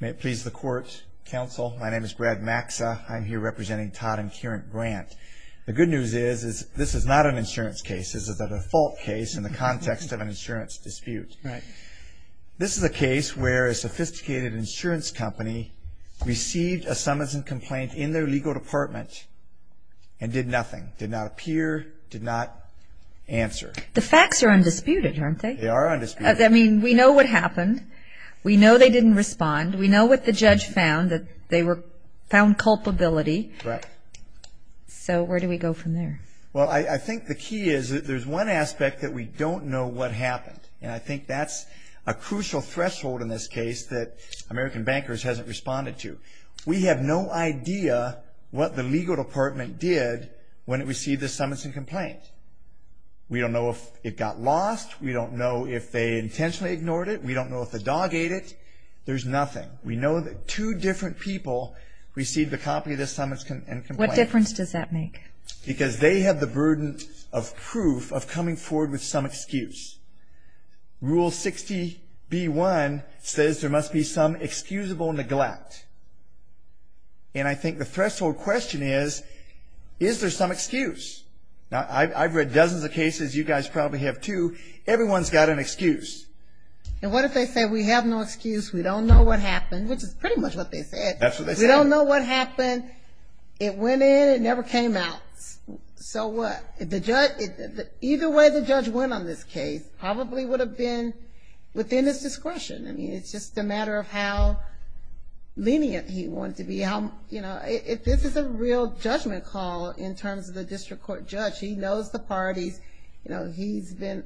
May it please the court, counsel. My name is Brad Maxa. I'm here representing Todd and Kieran Brandt. The good news is, is this is not an insurance case. This is a default case in the context of an insurance dispute. Right. This is a case where a sophisticated insurance company received a summons and complaint in their legal department and did nothing, did not appear, did not answer. The facts are undisputed, aren't they? They are undisputed. I mean, we know what happened. We know they didn't respond. We know what the judge found, that they found culpability. Right. So where do we go from there? Well, I think the key is that there's one aspect that we don't know what happened, and I think that's a crucial threshold in this case that American Bankers hasn't responded to. We have no idea what the legal department did when it received the summons and complaint. We don't know if it got lost. We don't know if they intentionally ignored it. We don't know if the dog ate it. There's nothing. We know that two different people received a copy of the summons and complaint. What difference does that make? Because they have the burden of proof of coming forward with some excuse. Rule 60B1 says there must be some excusable neglect, and I think the threshold question is, is there some excuse? Now, I've read dozens of cases. You guys probably have, too. Everyone's got an excuse. And what if they say, we have no excuse. We don't know what happened, which is pretty much what they said. That's what they said. We don't know what happened. It went in. It never came out. So what? Either way the judge went on this case probably would have been within his discretion. I mean, it's just a matter of how lenient he wanted to be. This is a real judgment call in terms of the district court judge. He knows the parties he's been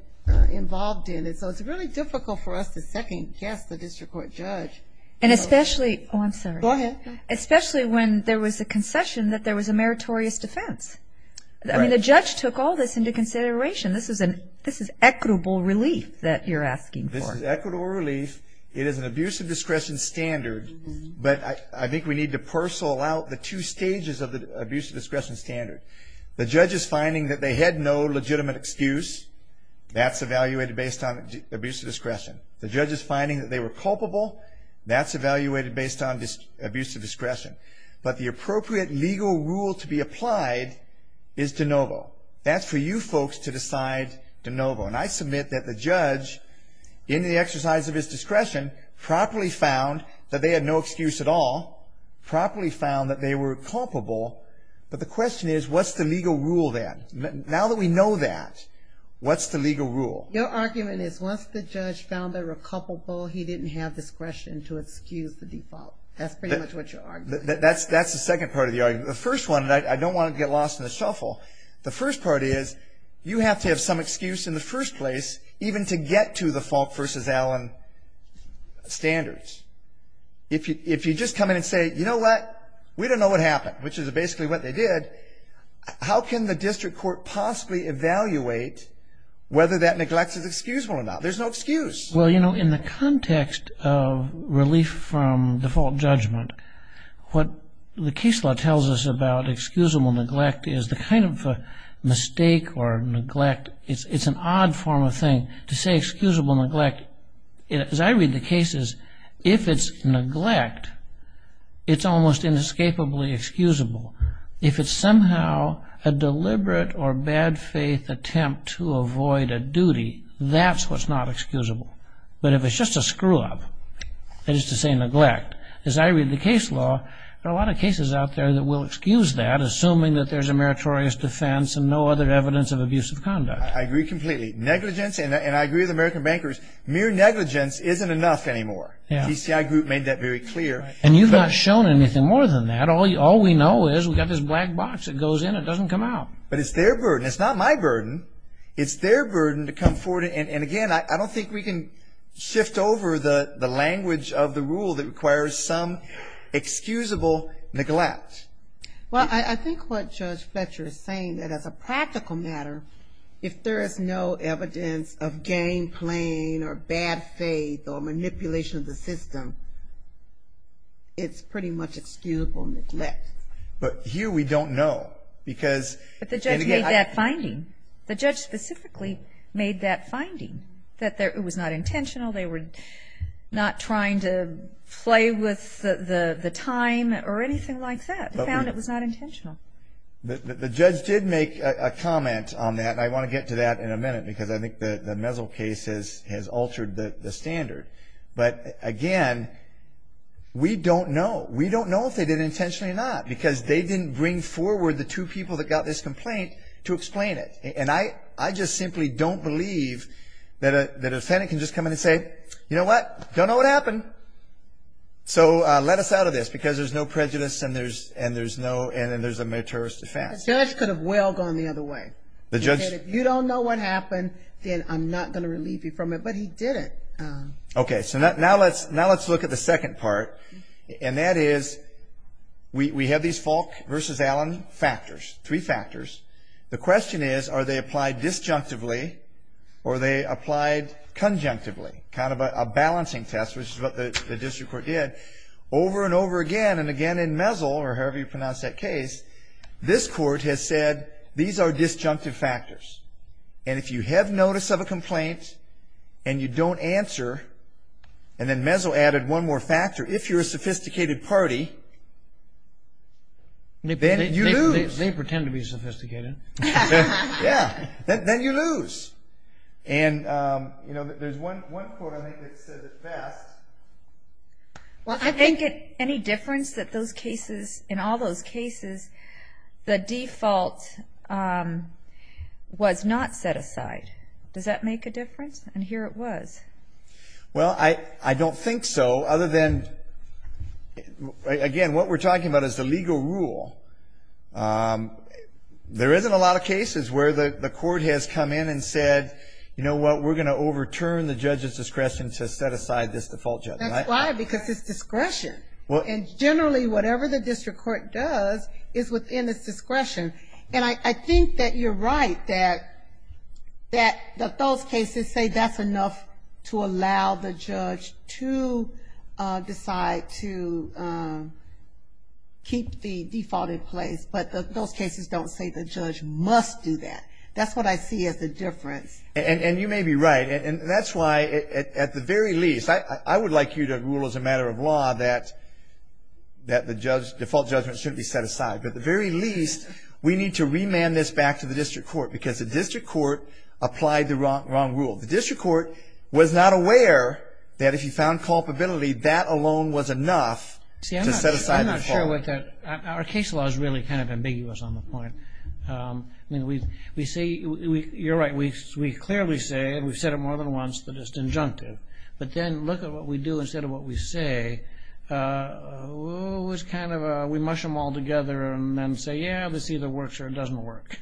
involved in, and so it's really difficult for us to second-guess the district court judge. And especially – oh, I'm sorry. Go ahead. Especially when there was a concession that there was a meritorious defense. I mean, the judge took all this into consideration. This is equitable relief that you're asking for. This is equitable relief. It is an abuse of discretion standard, but I think we need to parcel out the two stages of the abuse of discretion standard. The judge is finding that they had no legitimate excuse. That's evaluated based on abuse of discretion. The judge is finding that they were culpable. That's evaluated based on abuse of discretion. But the appropriate legal rule to be applied is de novo. That's for you folks to decide de novo. And I submit that the judge, in the exercise of his discretion, properly found that they had no excuse at all, properly found that they were culpable, but the question is what's the legal rule then? Now that we know that, what's the legal rule? Your argument is once the judge found they were culpable, he didn't have discretion to excuse the default. That's pretty much what your argument is. That's the second part of the argument. The first one, and I don't want to get lost in the shuffle, the first part is you have to have some excuse in the first place even to get to the Falk v. Allen standards. If you just come in and say, you know what, we don't know what happened, which is basically what they did, how can the district court possibly evaluate whether that neglect is excusable or not? There's no excuse. Well, you know, in the context of relief from default judgment, what the case law tells us about excusable neglect is the kind of mistake or neglect, it's an odd form of thing to say excusable neglect. As I read the cases, if it's neglect, it's almost inescapably excusable. If it's somehow a deliberate or bad faith attempt to avoid a duty, that's what's not excusable. But if it's just a screw-up, that is to say neglect, as I read the case law, there are a lot of cases out there that will excuse that, assuming that there's a meritorious defense and no other evidence of abusive conduct. I agree completely. Negligence, and I agree with American bankers, mere negligence isn't enough anymore. The DCI group made that very clear. And you've not shown anything more than that. All we know is we've got this black box that goes in, it doesn't come out. But it's their burden. It's not my burden. It's their burden to come forward. And, again, I don't think we can shift over the language of the rule that requires some excusable neglect. Well, I think what Judge Fletcher is saying, that as a practical matter, if there is no evidence of game playing or bad faith or manipulation of the system, it's pretty much excusable neglect. But here we don't know. But the judge made that finding. It was not intentional. They were not trying to play with the time or anything like that. They found it was not intentional. The judge did make a comment on that, and I want to get to that in a minute, because I think the Mesel case has altered the standard. But, again, we don't know. We don't know if they did it intentionally or not, because they didn't bring forward the two people that got this complaint to explain it. And I just simply don't believe that a defendant can just come in and say, you know what, don't know what happened, so let us out of this, because there's no prejudice and there's a meritorious defense. The judge could have well gone the other way. He said, if you don't know what happened, then I'm not going to relieve you from it. But he did it. Okay, so now let's look at the second part, and that is we have these Falk v. Allen factors, three factors. The question is, are they applied disjunctively, or are they applied conjunctively? Kind of a balancing test, which is what the district court did. Over and over again, and again in Mesel, or however you pronounce that case, this court has said, these are disjunctive factors. And if you have notice of a complaint and you don't answer, and then Mesel added one more factor, if you're a sophisticated party, then you lose. They pretend to be sophisticated. Yeah, then you lose. And, you know, there's one court, I think, that said it best. Well, I think any difference that those cases, in all those cases, the default was not set aside. Does that make a difference? And here it was. Well, I don't think so, other than, again, what we're talking about is the legal rule. There isn't a lot of cases where the court has come in and said, you know what, we're going to overturn the judge's discretion to set aside this default judgment. That's why, because it's discretion. And generally, whatever the district court does is within its discretion. And I think that you're right that those cases say that's enough to allow the judge to decide to keep the default in place. But those cases don't say the judge must do that. That's what I see as the difference. And you may be right. And that's why, at the very least, I would like you to rule as a matter of law that the default judgment shouldn't be set aside. At the very least, we need to remand this back to the district court because the district court applied the wrong rule. The district court was not aware that if you found culpability, that alone was enough to set aside the default. See, I'm not sure with that. Our case law is really kind of ambiguous on the point. I mean, we say, you're right, we clearly say, and we've said it more than once, that it's injunctive. But then look at what we do instead of what we say. We mush them all together and say, yeah, this either works or it doesn't work.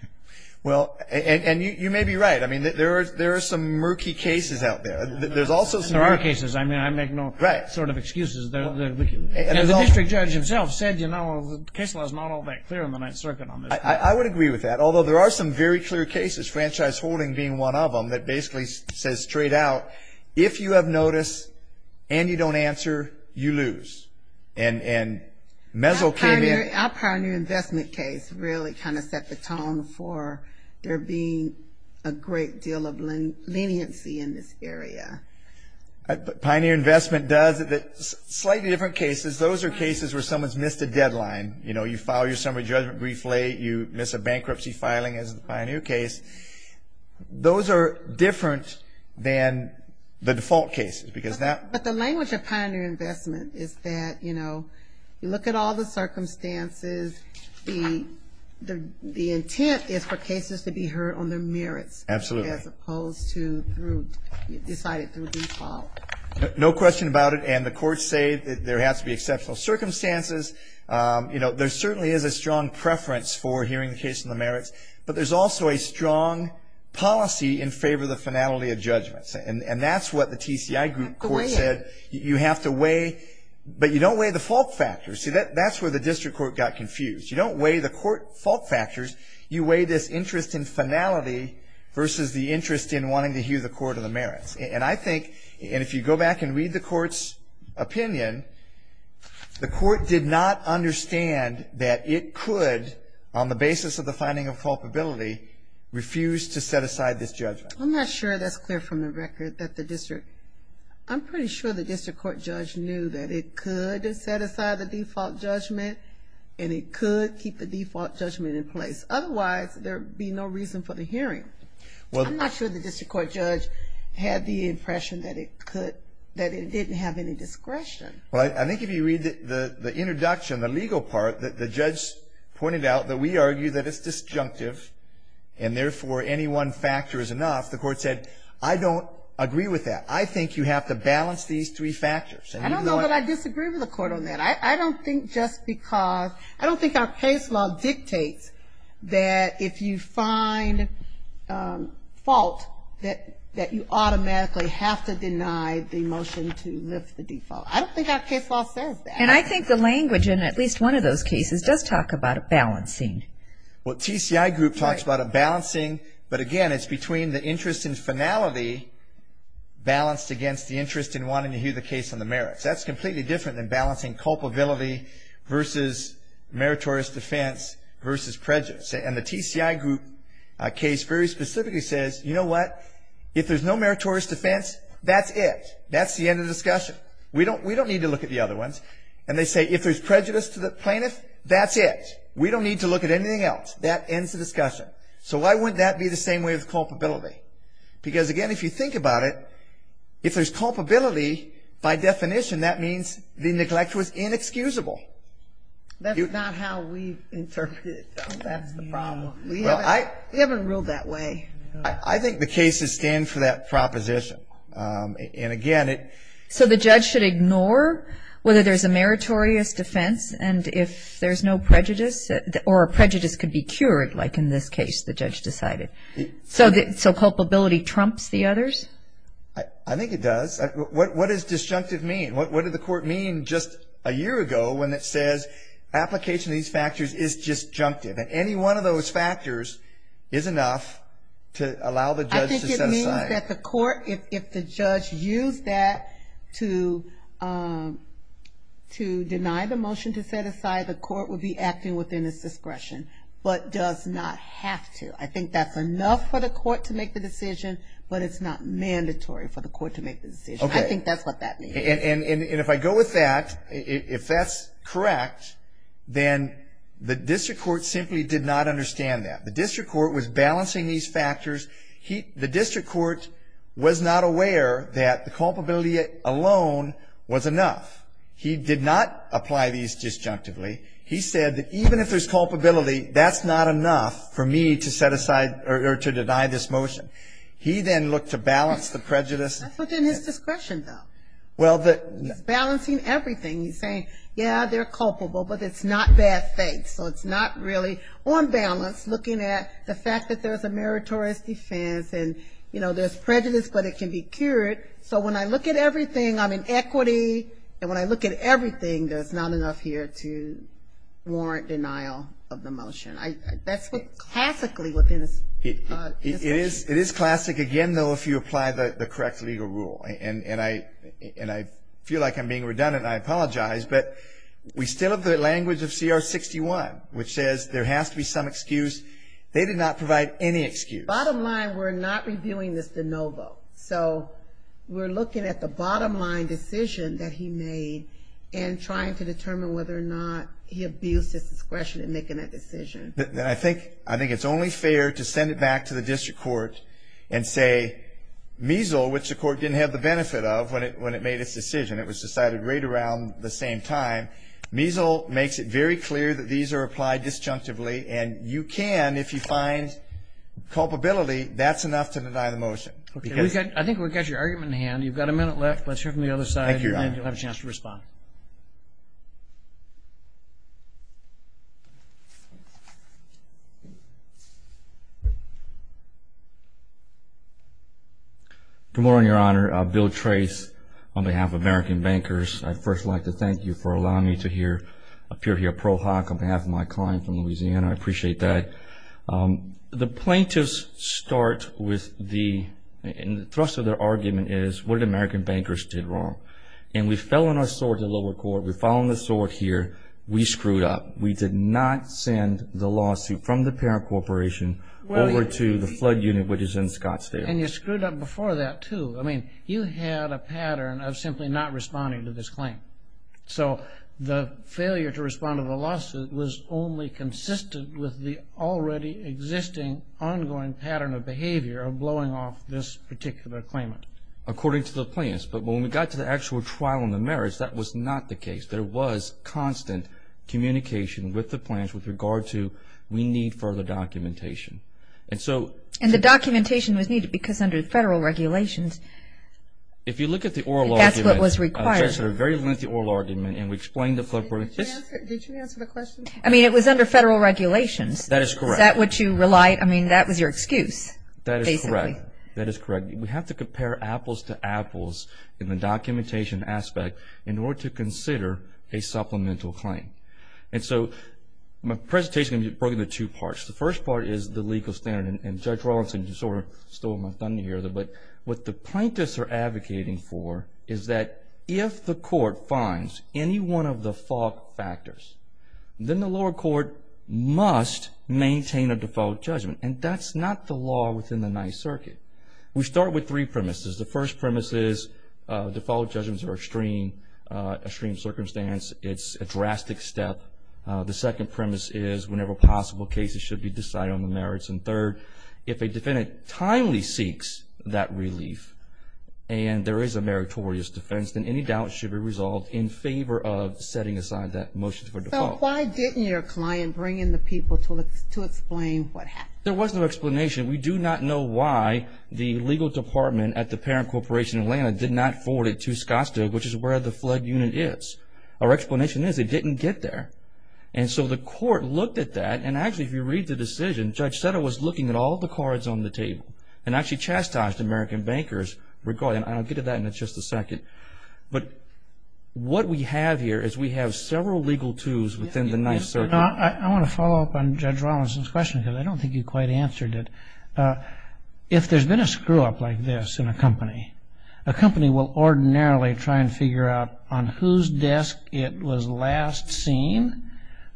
Well, and you may be right. I mean, there are some murky cases out there. There are cases. I mean, I make no sort of excuses. The district judge himself said, you know, the case law is not all that clear on the Ninth Circuit on this. I would agree with that, although there are some very clear cases, franchise holding being one of them, that basically says straight out, if you have notice and you don't answer, you lose. And Mezzo came in. Our Pioneer Investment case really kind of set the tone for there being a great deal of leniency in this area. Pioneer Investment does. Slightly different cases. Those are cases where someone's missed a deadline. You know, you file your summary judgment briefly. You miss a bankruptcy filing as in the Pioneer case. Those are different than the default cases because that. But the language of Pioneer Investment is that, you know, you look at all the circumstances. The intent is for cases to be heard on their merits. Absolutely. As opposed to through decided through default. No question about it. And the courts say that there has to be exceptional circumstances. You know, there certainly is a strong preference for hearing the case on the merits. But there's also a strong policy in favor of the finality of judgments. And that's what the TCI group court said. You have to weigh. But you don't weigh the fault factors. See, that's where the district court got confused. You don't weigh the court fault factors. You weigh this interest in finality versus the interest in wanting to hear the court on the merits. And I think, and if you go back and read the court's opinion, the court did not understand that it could, on the basis of the finding of culpability, refuse to set aside this judgment. I'm not sure that's clear from the record that the district, I'm pretty sure the district court judge knew that it could set aside the default judgment and it could keep the default judgment in place. Otherwise, there would be no reason for the hearing. I'm not sure the district court judge had the impression that it could, that it didn't have any discretion. Well, I think if you read the introduction, the legal part, the judge pointed out that we argue that it's disjunctive and therefore any one factor is enough. The court said, I don't agree with that. I think you have to balance these three factors. I don't know that I disagree with the court on that. I don't think just because, I don't think our case law dictates that if you find fault, that you automatically have to deny the motion to lift the default. I don't think our case law says that. And I think the language in at least one of those cases does talk about a balancing. Well, TCI group talks about a balancing, but again, it's between the interest in finality, balanced against the interest in wanting to hear the case on the merits. That's completely different than balancing culpability versus meritorious defense versus prejudice. And the TCI group case very specifically says, you know what? If there's no meritorious defense, that's it. That's the end of the discussion. We don't need to look at the other ones. And they say if there's prejudice to the plaintiff, that's it. We don't need to look at anything else. That ends the discussion. So why wouldn't that be the same way with culpability? Because, again, if you think about it, if there's culpability, by definition, that means the neglect was inexcusable. That's not how we interpret it, though. That's the problem. We haven't ruled that way. I think the cases stand for that proposition. And, again, it — So the judge should ignore whether there's a meritorious defense and if there's no prejudice, or a prejudice could be cured, like in this case the judge decided. So culpability trumps the others? I think it does. What does disjunctive mean? What did the court mean just a year ago when it says application of these factors is disjunctive? And any one of those factors is enough to allow the judge to set aside. I think it means that the court, if the judge used that to deny the motion to set aside, the court would be acting within its discretion, but does not have to. I think that's enough for the court to make the decision, but it's not mandatory for the court to make the decision. Okay. I think that's what that means. And if I go with that, if that's correct, then the district court simply did not understand that. The district court was balancing these factors. The district court was not aware that the culpability alone was enough. He did not apply these disjunctively. He said that even if there's culpability, that's not enough for me to set aside or to deny this motion. He then looked to balance the prejudice. That's within his discretion, though. He's balancing everything. He's saying, yeah, they're culpable, but it's not bad faith. So it's not really on balance looking at the fact that there's a meritorious defense and, you know, there's prejudice, but it can be cured. So when I look at everything, I'm in equity, and when I look at everything, there's not enough here to warrant denial of the motion. That's what classically within his discretion. It is classic, again, though, if you apply the correct legal rule. And I feel like I'm being redundant, and I apologize, but we still have the language of CR-61, which says there has to be some excuse. They did not provide any excuse. Bottom line, we're not reviewing this de novo. So we're looking at the bottom line decision that he made and trying to determine whether or not he abused his discretion in making that decision. I think it's only fair to send it back to the district court and say, Miesel, which the court didn't have the benefit of when it made its decision, it was decided right around the same time, Miesel makes it very clear that these are applied disjunctively, and you can, if you find culpability, that's enough to deny the motion. Okay. I think we've got your argument in hand. You've got a minute left. Let's hear from the other side, and then you'll have a chance to respond. Good morning, Your Honor. Bill Trace on behalf of American Bankers. I'd first like to thank you for allowing me to appear here pro hoc on behalf of my client from Louisiana. I appreciate that. The plaintiffs start with the thrust of their argument is what did American Bankers do wrong? And we fell on our sword to the lower court. We fell on the sword here. We screwed up. We did not send the lawsuit from the parent corporation over to the flood unit, which is in Scottsdale. And you screwed up before that, too. I mean, you had a pattern of simply not responding to this claim. So the failure to respond to the lawsuit was only consistent with the already existing, ongoing pattern of behavior of blowing off this particular claimant. According to the plaintiffs. But when we got to the actual trial in the merits, that was not the case. There was constant communication with the plaintiffs with regard to we need further documentation. And the documentation was needed because under federal regulations. If you look at the oral argument. That's what was required. A very lengthy oral argument, and we explained the. Did you answer the question? I mean, it was under federal regulations. That is correct. Is that what you relied. I mean, that was your excuse. That is correct. That is correct. We have to compare apples to apples in the documentation aspect in order to consider a supplemental claim. And so my presentation is going to be broken into two parts. The first part is the legal standard. And Judge Rawlinson, you sort of stole my thunder here. But what the plaintiffs are advocating for is that if the court finds any one of the fault factors, then the lower court must maintain a default judgment. And that's not the law within the Ninth Circuit. We start with three premises. The first premise is default judgments are extreme, extreme circumstance. It's a drastic step. The second premise is whenever possible, cases should be decided on the merits. And third, if a defendant timely seeks that relief and there is a meritorious defense, then any doubt should be resolved in favor of setting aside that motion for default. So why didn't your client bring in the people to explain what happened? There was no explanation. We do not know why the legal department at the Parent Corporation of Atlanta did not forward it to Scottsdale, which is where the flood unit is. Our explanation is it didn't get there. And so the court looked at that. And actually, if you read the decision, Judge Sutter was looking at all the cards on the table and actually chastised American bankers regarding it. And I'll get to that in just a second. But what we have here is we have several legal twos within the Ninth Circuit. I want to follow up on Judge Rawlinson's question because I don't think you quite answered it. If there's been a screw-up like this in a company, a company will ordinarily try and figure out on whose desk it was last seen,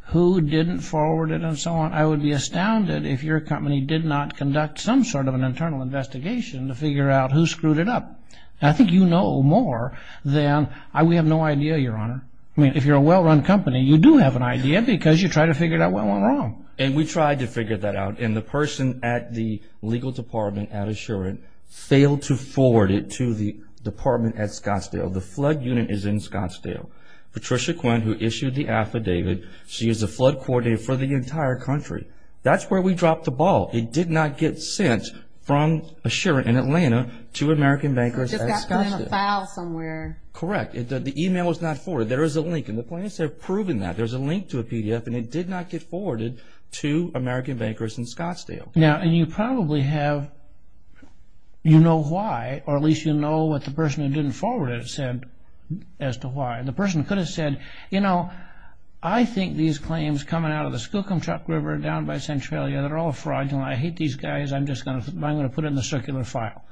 who didn't forward it, and so on. I would be astounded if your company did not conduct some sort of an internal investigation to figure out who screwed it up. I think you know more than I. We have no idea, Your Honor. I mean, if you're a well-run company, you do have an idea because you try to figure out what went wrong. And we tried to figure that out. And the person at the legal department at Assurant failed to forward it to the department at Scottsdale. The flood unit is in Scottsdale. Patricia Quinn, who issued the affidavit, she is the flood coordinator for the entire country. That's where we dropped the ball. It did not get sent from Assurant in Atlanta to American bankers at Scottsdale. It just got put in a file somewhere. Correct. The email was not forwarded. There is a link, and the plaintiffs have proven that. There's a link to a PDF, and it did not get forwarded to American bankers in Scottsdale. Now, and you probably have, you know why, or at least you know what the person who didn't forward it said as to why. The person could have said, you know, I think these claims coming out of the Skookum Truck River down by Centralia, they're all fraudulent. I hate these guys. I'm just going to put it in the circular file.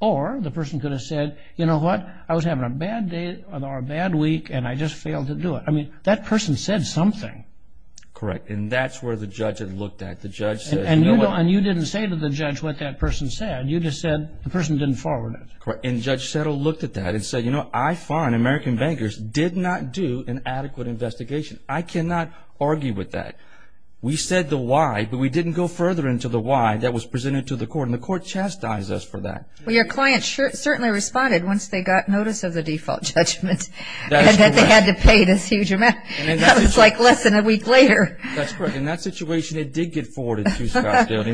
Or the person could have said, you know what, I was having a bad day or a bad week, and I just failed to do it. I mean, that person said something. Correct. And that's where the judge had looked at. The judge said, you know what. And you didn't say to the judge what that person said. You just said the person didn't forward it. Correct. And Judge Settle looked at that and said, you know, I find American bankers did not do an adequate investigation. I cannot argue with that. We said the why, but we didn't go further into the why that was presented to the court, and the court chastised us for that. Well, your client certainly responded once they got notice of the default judgment. That's correct. And that they had to pay this huge amount. That was like less than a week later. That's correct. In that situation, it did get forwarded to Scottsdale immediately.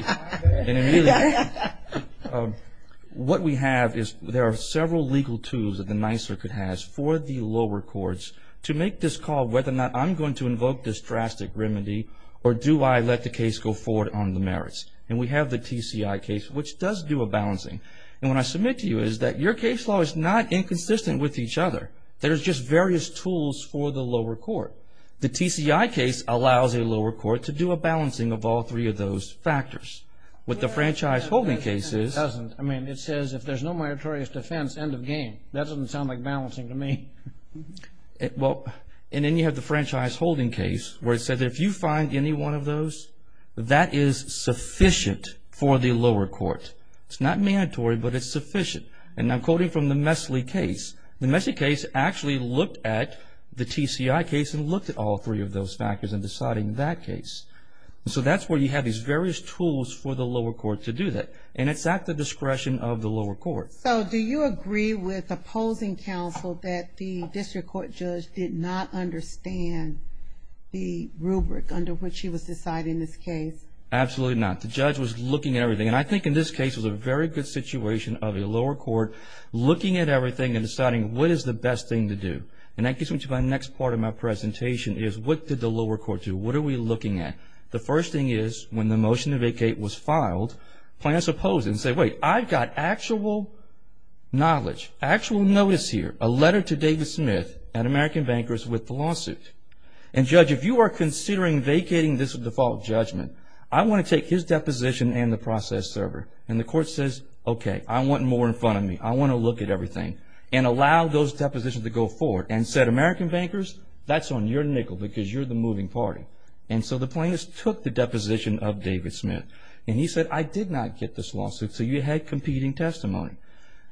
Of course. And immediately. What we have is there are several legal tools that the Ninth Circuit has for the lower courts to make this call, whether or not I'm going to invoke this drastic remedy, or do I let the case go forward on the merits. And we have the TCI case, which does do a balancing. And what I submit to you is that your case law is not inconsistent with each other. There's just various tools for the lower court. The TCI case allows a lower court to do a balancing of all three of those factors. What the franchise holding case is. It doesn't. I mean, it says if there's no meritorious defense, end of game. That doesn't sound like balancing to me. Well, and then you have the franchise holding case where it said that if you find any one of those, that is sufficient for the lower court. It's not mandatory, but it's sufficient. And I'm quoting from the Mesley case. The Mesley case actually looked at the TCI case and looked at all three of those factors in deciding that case. So that's where you have these various tools for the lower court to do that. And it's at the discretion of the lower court. So do you agree with opposing counsel that the district court judge did not understand the rubric under which he was deciding this case? Absolutely not. The judge was looking at everything. And I think in this case it was a very good situation of a lower court looking at everything and deciding what is the best thing to do. And that gets me to my next part of my presentation is what did the lower court do? What are we looking at? The first thing is when the motion to vacate was filed, plaintiffs opposed it and said, wait, I've got actual knowledge, actual notice here, a letter to David Smith, an American banker, with the lawsuit. And judge, if you are considering vacating this default judgment, I want to take his deposition and the process server. And the court says, okay, I want more in front of me. I want to look at everything. And allow those depositions to go forward. And said, American bankers, that's on your nickel because you're the moving party. And so the plaintiffs took the deposition of David Smith. And he said, I did not get this lawsuit, so you had competing testimony.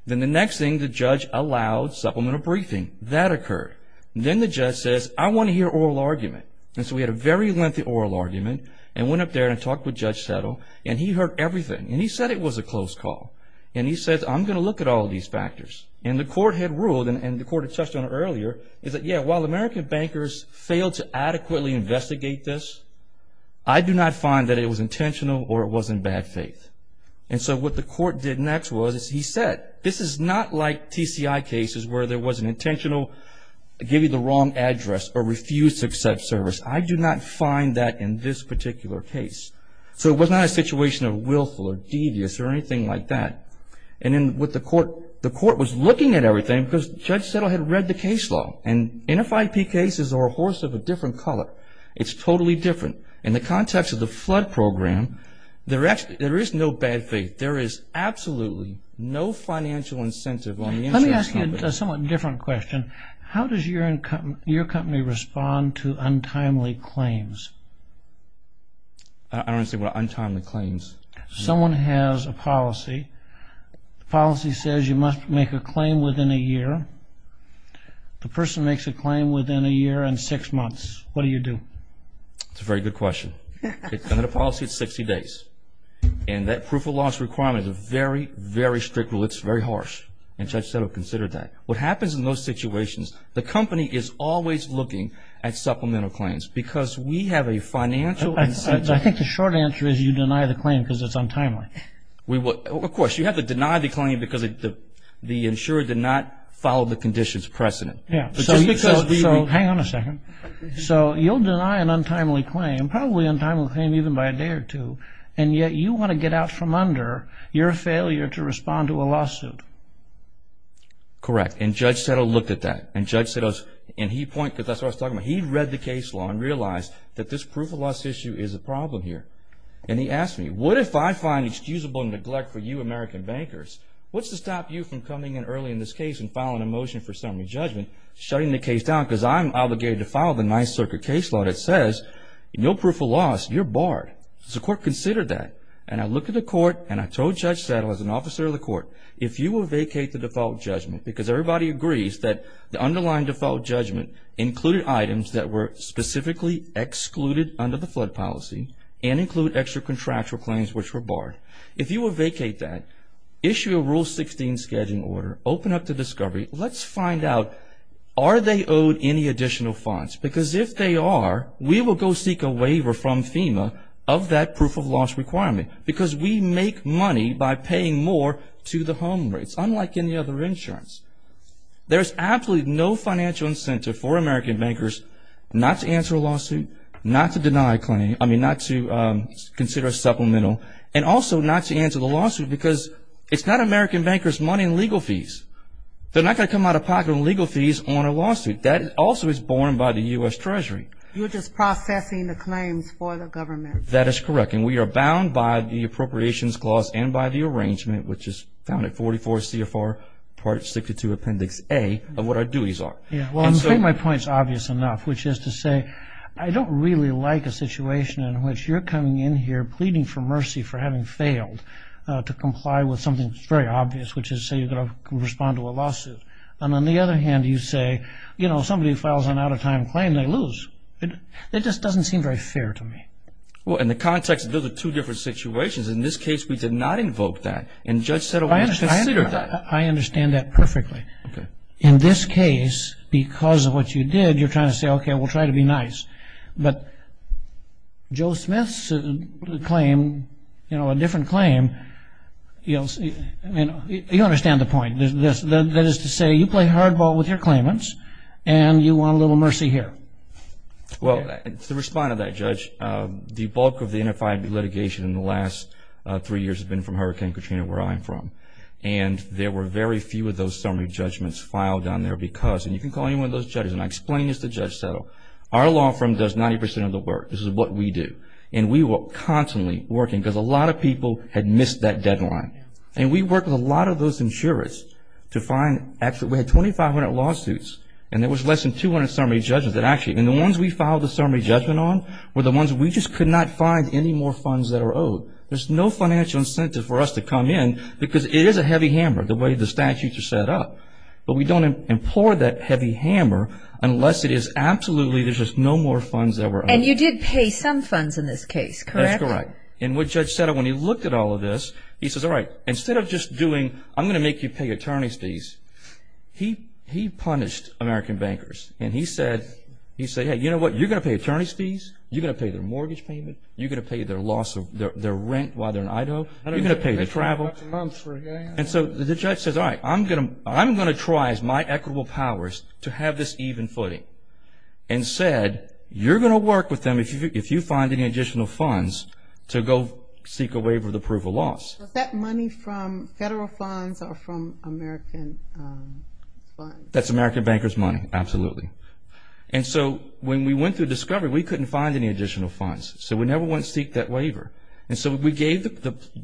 Then the next thing, the judge allowed supplemental briefing. That occurred. Then the judge says, I want to hear oral argument. And so we had a very lengthy oral argument and went up there and talked with Judge Settle. And he heard everything. And he said it was a close call. And he says, I'm going to look at all these factors. And the court had ruled, and the court had touched on it earlier, is that, yeah, while American bankers failed to adequately investigate this, I do not find that it was intentional or it was in bad faith. And so what the court did next was he said, this is not like TCI cases where there was an intentional give you the wrong address or refuse to accept service. I do not find that in this particular case. So it was not a situation of willful or devious or anything like that. And then with the court, the court was looking at everything because Judge Settle had read the case law. And NFIP cases are a horse of a different color. It's totally different. So in the context of the flood program, there is no bad faith. There is absolutely no financial incentive on the insurance company. Let me ask you a somewhat different question. How does your company respond to untimely claims? I don't understand what untimely claims. Someone has a policy. The policy says you must make a claim within a year. The person makes a claim within a year and six months. What do you do? That's a very good question. Under the policy, it's 60 days. And that proof of loss requirement is a very, very strict rule. It's very harsh. And Judge Settle considered that. What happens in those situations, the company is always looking at supplemental claims because we have a financial incentive. I think the short answer is you deny the claim because it's untimely. Of course. You have to deny the claim because the insurer did not follow the conditions precedent. Hang on a second. So you'll deny an untimely claim, probably an untimely claim even by a day or two, and yet you want to get out from under your failure to respond to a lawsuit. Correct. And Judge Settle looked at that. And Judge Settle, he read the case law and realized that this proof of loss issue is a problem here. And he asked me, what if I find excusable neglect for you American bankers? What's to stop you from coming in early in this case and filing a motion for summary judgment, shutting the case down because I'm obligated to file the Ninth Circuit case law that says no proof of loss, you're barred. So the court considered that. And I looked at the court and I told Judge Settle as an officer of the court, if you will vacate the default judgment because everybody agrees that the underlying default judgment included items that were specifically excluded under the flood policy and include extra contractual claims which were barred. If you will vacate that, issue a Rule 16 scheduling order, open up to discovery. Let's find out, are they owed any additional fines? Because if they are, we will go seek a waiver from FEMA of that proof of loss requirement because we make money by paying more to the home rates, unlike any other insurance. There's absolutely no financial incentive for American bankers not to answer a lawsuit, not to deny a claim, I mean not to consider a supplemental, and also not to answer the lawsuit because it's not American bankers' money in legal fees. They're not going to come out of pocket on legal fees on a lawsuit. That also is borne by the U.S. Treasury. You're just processing the claims for the government. That is correct. And we are bound by the Appropriations Clause and by the arrangement, which is found at 44 CFR Part 62 Appendix A, of what our duties are. Well, I think my point is obvious enough, which is to say, I don't really like a situation in which you're coming in here pleading for mercy for having failed to comply with something that's very obvious, which is say you're going to respond to a lawsuit. And on the other hand, you say, you know, somebody files an out-of-time claim, they lose. It just doesn't seem very fair to me. Well, in the context, those are two different situations. In this case, we did not invoke that. And Judge Settleman considered that. I understand that perfectly. Okay. In this case, because of what you did, you're trying to say, okay, we'll try to be nice. But Joe Smith's claim, you know, a different claim, you understand the point. That is to say, you play hardball with your claimants and you want a little mercy here. Well, to respond to that, Judge, the bulk of the NFI litigation in the last three years has been from Hurricane Katrina, where I'm from. And there were very few of those summary judgments filed down there because, and you can call any one of those judges, and I explain this to Judge Settle, our law firm does 90 percent of the work. This is what we do. And we were constantly working because a lot of people had missed that deadline. And we worked with a lot of those insurers to find, actually, we had 2,500 lawsuits, and there was less than 200 summary judgments that actually, and the ones we filed the summary judgment on were the ones we just could not find any more funds that are owed. So there's no financial incentive for us to come in because it is a heavy hammer, the way the statutes are set up. But we don't implore that heavy hammer unless it is absolutely, there's just no more funds that were owed. And you did pay some funds in this case, correct? That's correct. And what Judge Settle, when he looked at all of this, he says, all right, instead of just doing, I'm going to make you pay attorney's fees, he punished American bankers. And he said, hey, you know what, you're going to pay attorney's fees, you're going to pay their mortgage payment, you're going to pay their rent while they're in Idaho, you're going to pay their travel. And so the judge says, all right, I'm going to try as my equitable powers to have this even footing. And said, you're going to work with them if you find any additional funds to go seek a waiver of the proof of loss. Is that money from federal funds or from American funds? That's American bankers' money, absolutely. And so when we went through discovery, we couldn't find any additional funds. So we never went to seek that waiver. And so we gave,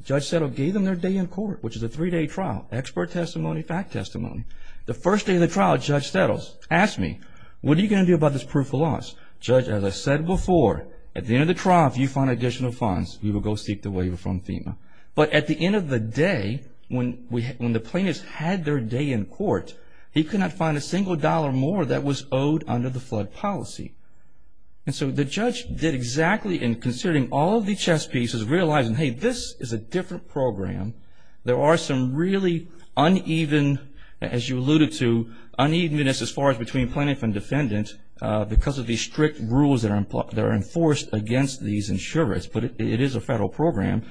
Judge Settle gave them their day in court, which is a three-day trial, expert testimony, fact testimony. The first day of the trial, Judge Settle asked me, what are you going to do about this proof of loss? Judge, as I said before, at the end of the trial, if you find additional funds, you will go seek the waiver from FEMA. But at the end of the day, when the plaintiffs had their day in court, he could not find a single dollar more that was owed under the flood policy. And so the judge did exactly in considering all of the chess pieces, realizing, hey, this is a different program. There are some really uneven, as you alluded to, unevenness as far as between plaintiff and defendant because of the strict rules that are enforced against these insurers. But it is a federal program.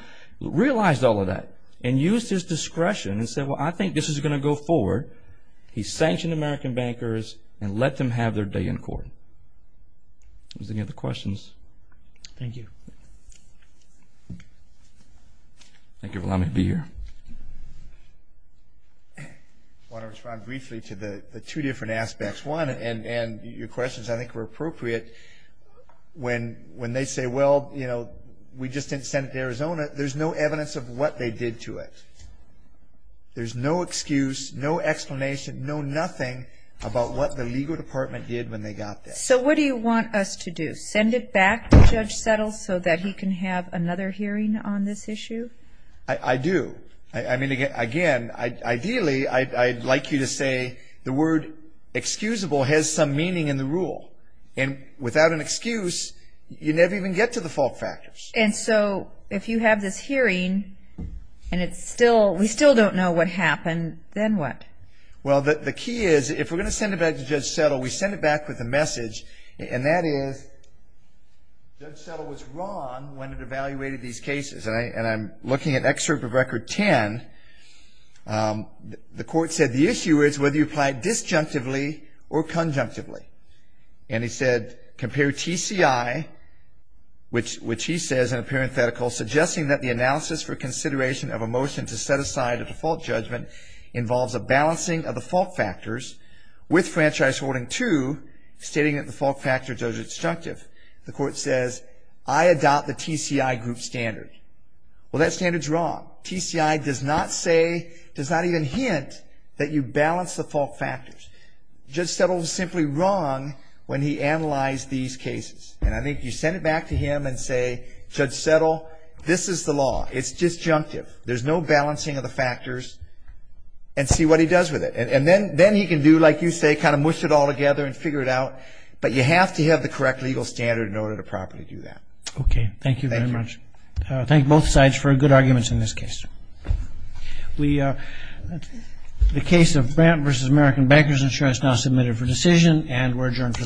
Realized all of that and used his discretion and said, well, I think this is going to go forward. He sanctioned American bankers and let them have their day in court. Any other questions? Thank you. Thank you for allowing me to be here. I want to respond briefly to the two different aspects. One, and your questions, I think, were appropriate. When they say, well, you know, we just didn't send it to Arizona, there's no evidence of what they did to it. There's no excuse, no explanation, no nothing about what the legal department did when they got that. So what do you want us to do? Send it back to Judge Settle so that he can have another hearing on this issue? I do. I mean, again, ideally, I'd like you to say the word excusable has some meaning in the rule. And without an excuse, you never even get to the fault factors. And so if you have this hearing and we still don't know what happened, then what? Well, the key is if we're going to send it back to Judge Settle, we send it back with a message, and that is Judge Settle was wrong when it evaluated these cases. And I'm looking at excerpt of Record 10. The court said the issue is whether you applied disjunctively or conjunctively. And he said, compare TCI, which he says in a parenthetical, suggesting that the analysis for consideration of a motion to set aside a default judgment involves a balancing of the fault factors with franchise holding two, stating that the fault factors are disjunctive. The court says, I adopt the TCI group standard. Well, that standard's wrong. TCI does not say, does not even hint that you balance the fault factors. Judge Settle was simply wrong when he analyzed these cases. And I think you send it back to him and say, Judge Settle, this is the law. It's disjunctive. There's no balancing of the factors. And see what he does with it. And then he can do, like you say, kind of mush it all together and figure it out. But you have to have the correct legal standard in order to properly do that. Okay. Thank you very much. Thank you. Thank you both sides for good arguments in this case. The case of Brant v. American Bankers Insurance now submitted for decision and we're adjourned for the morning.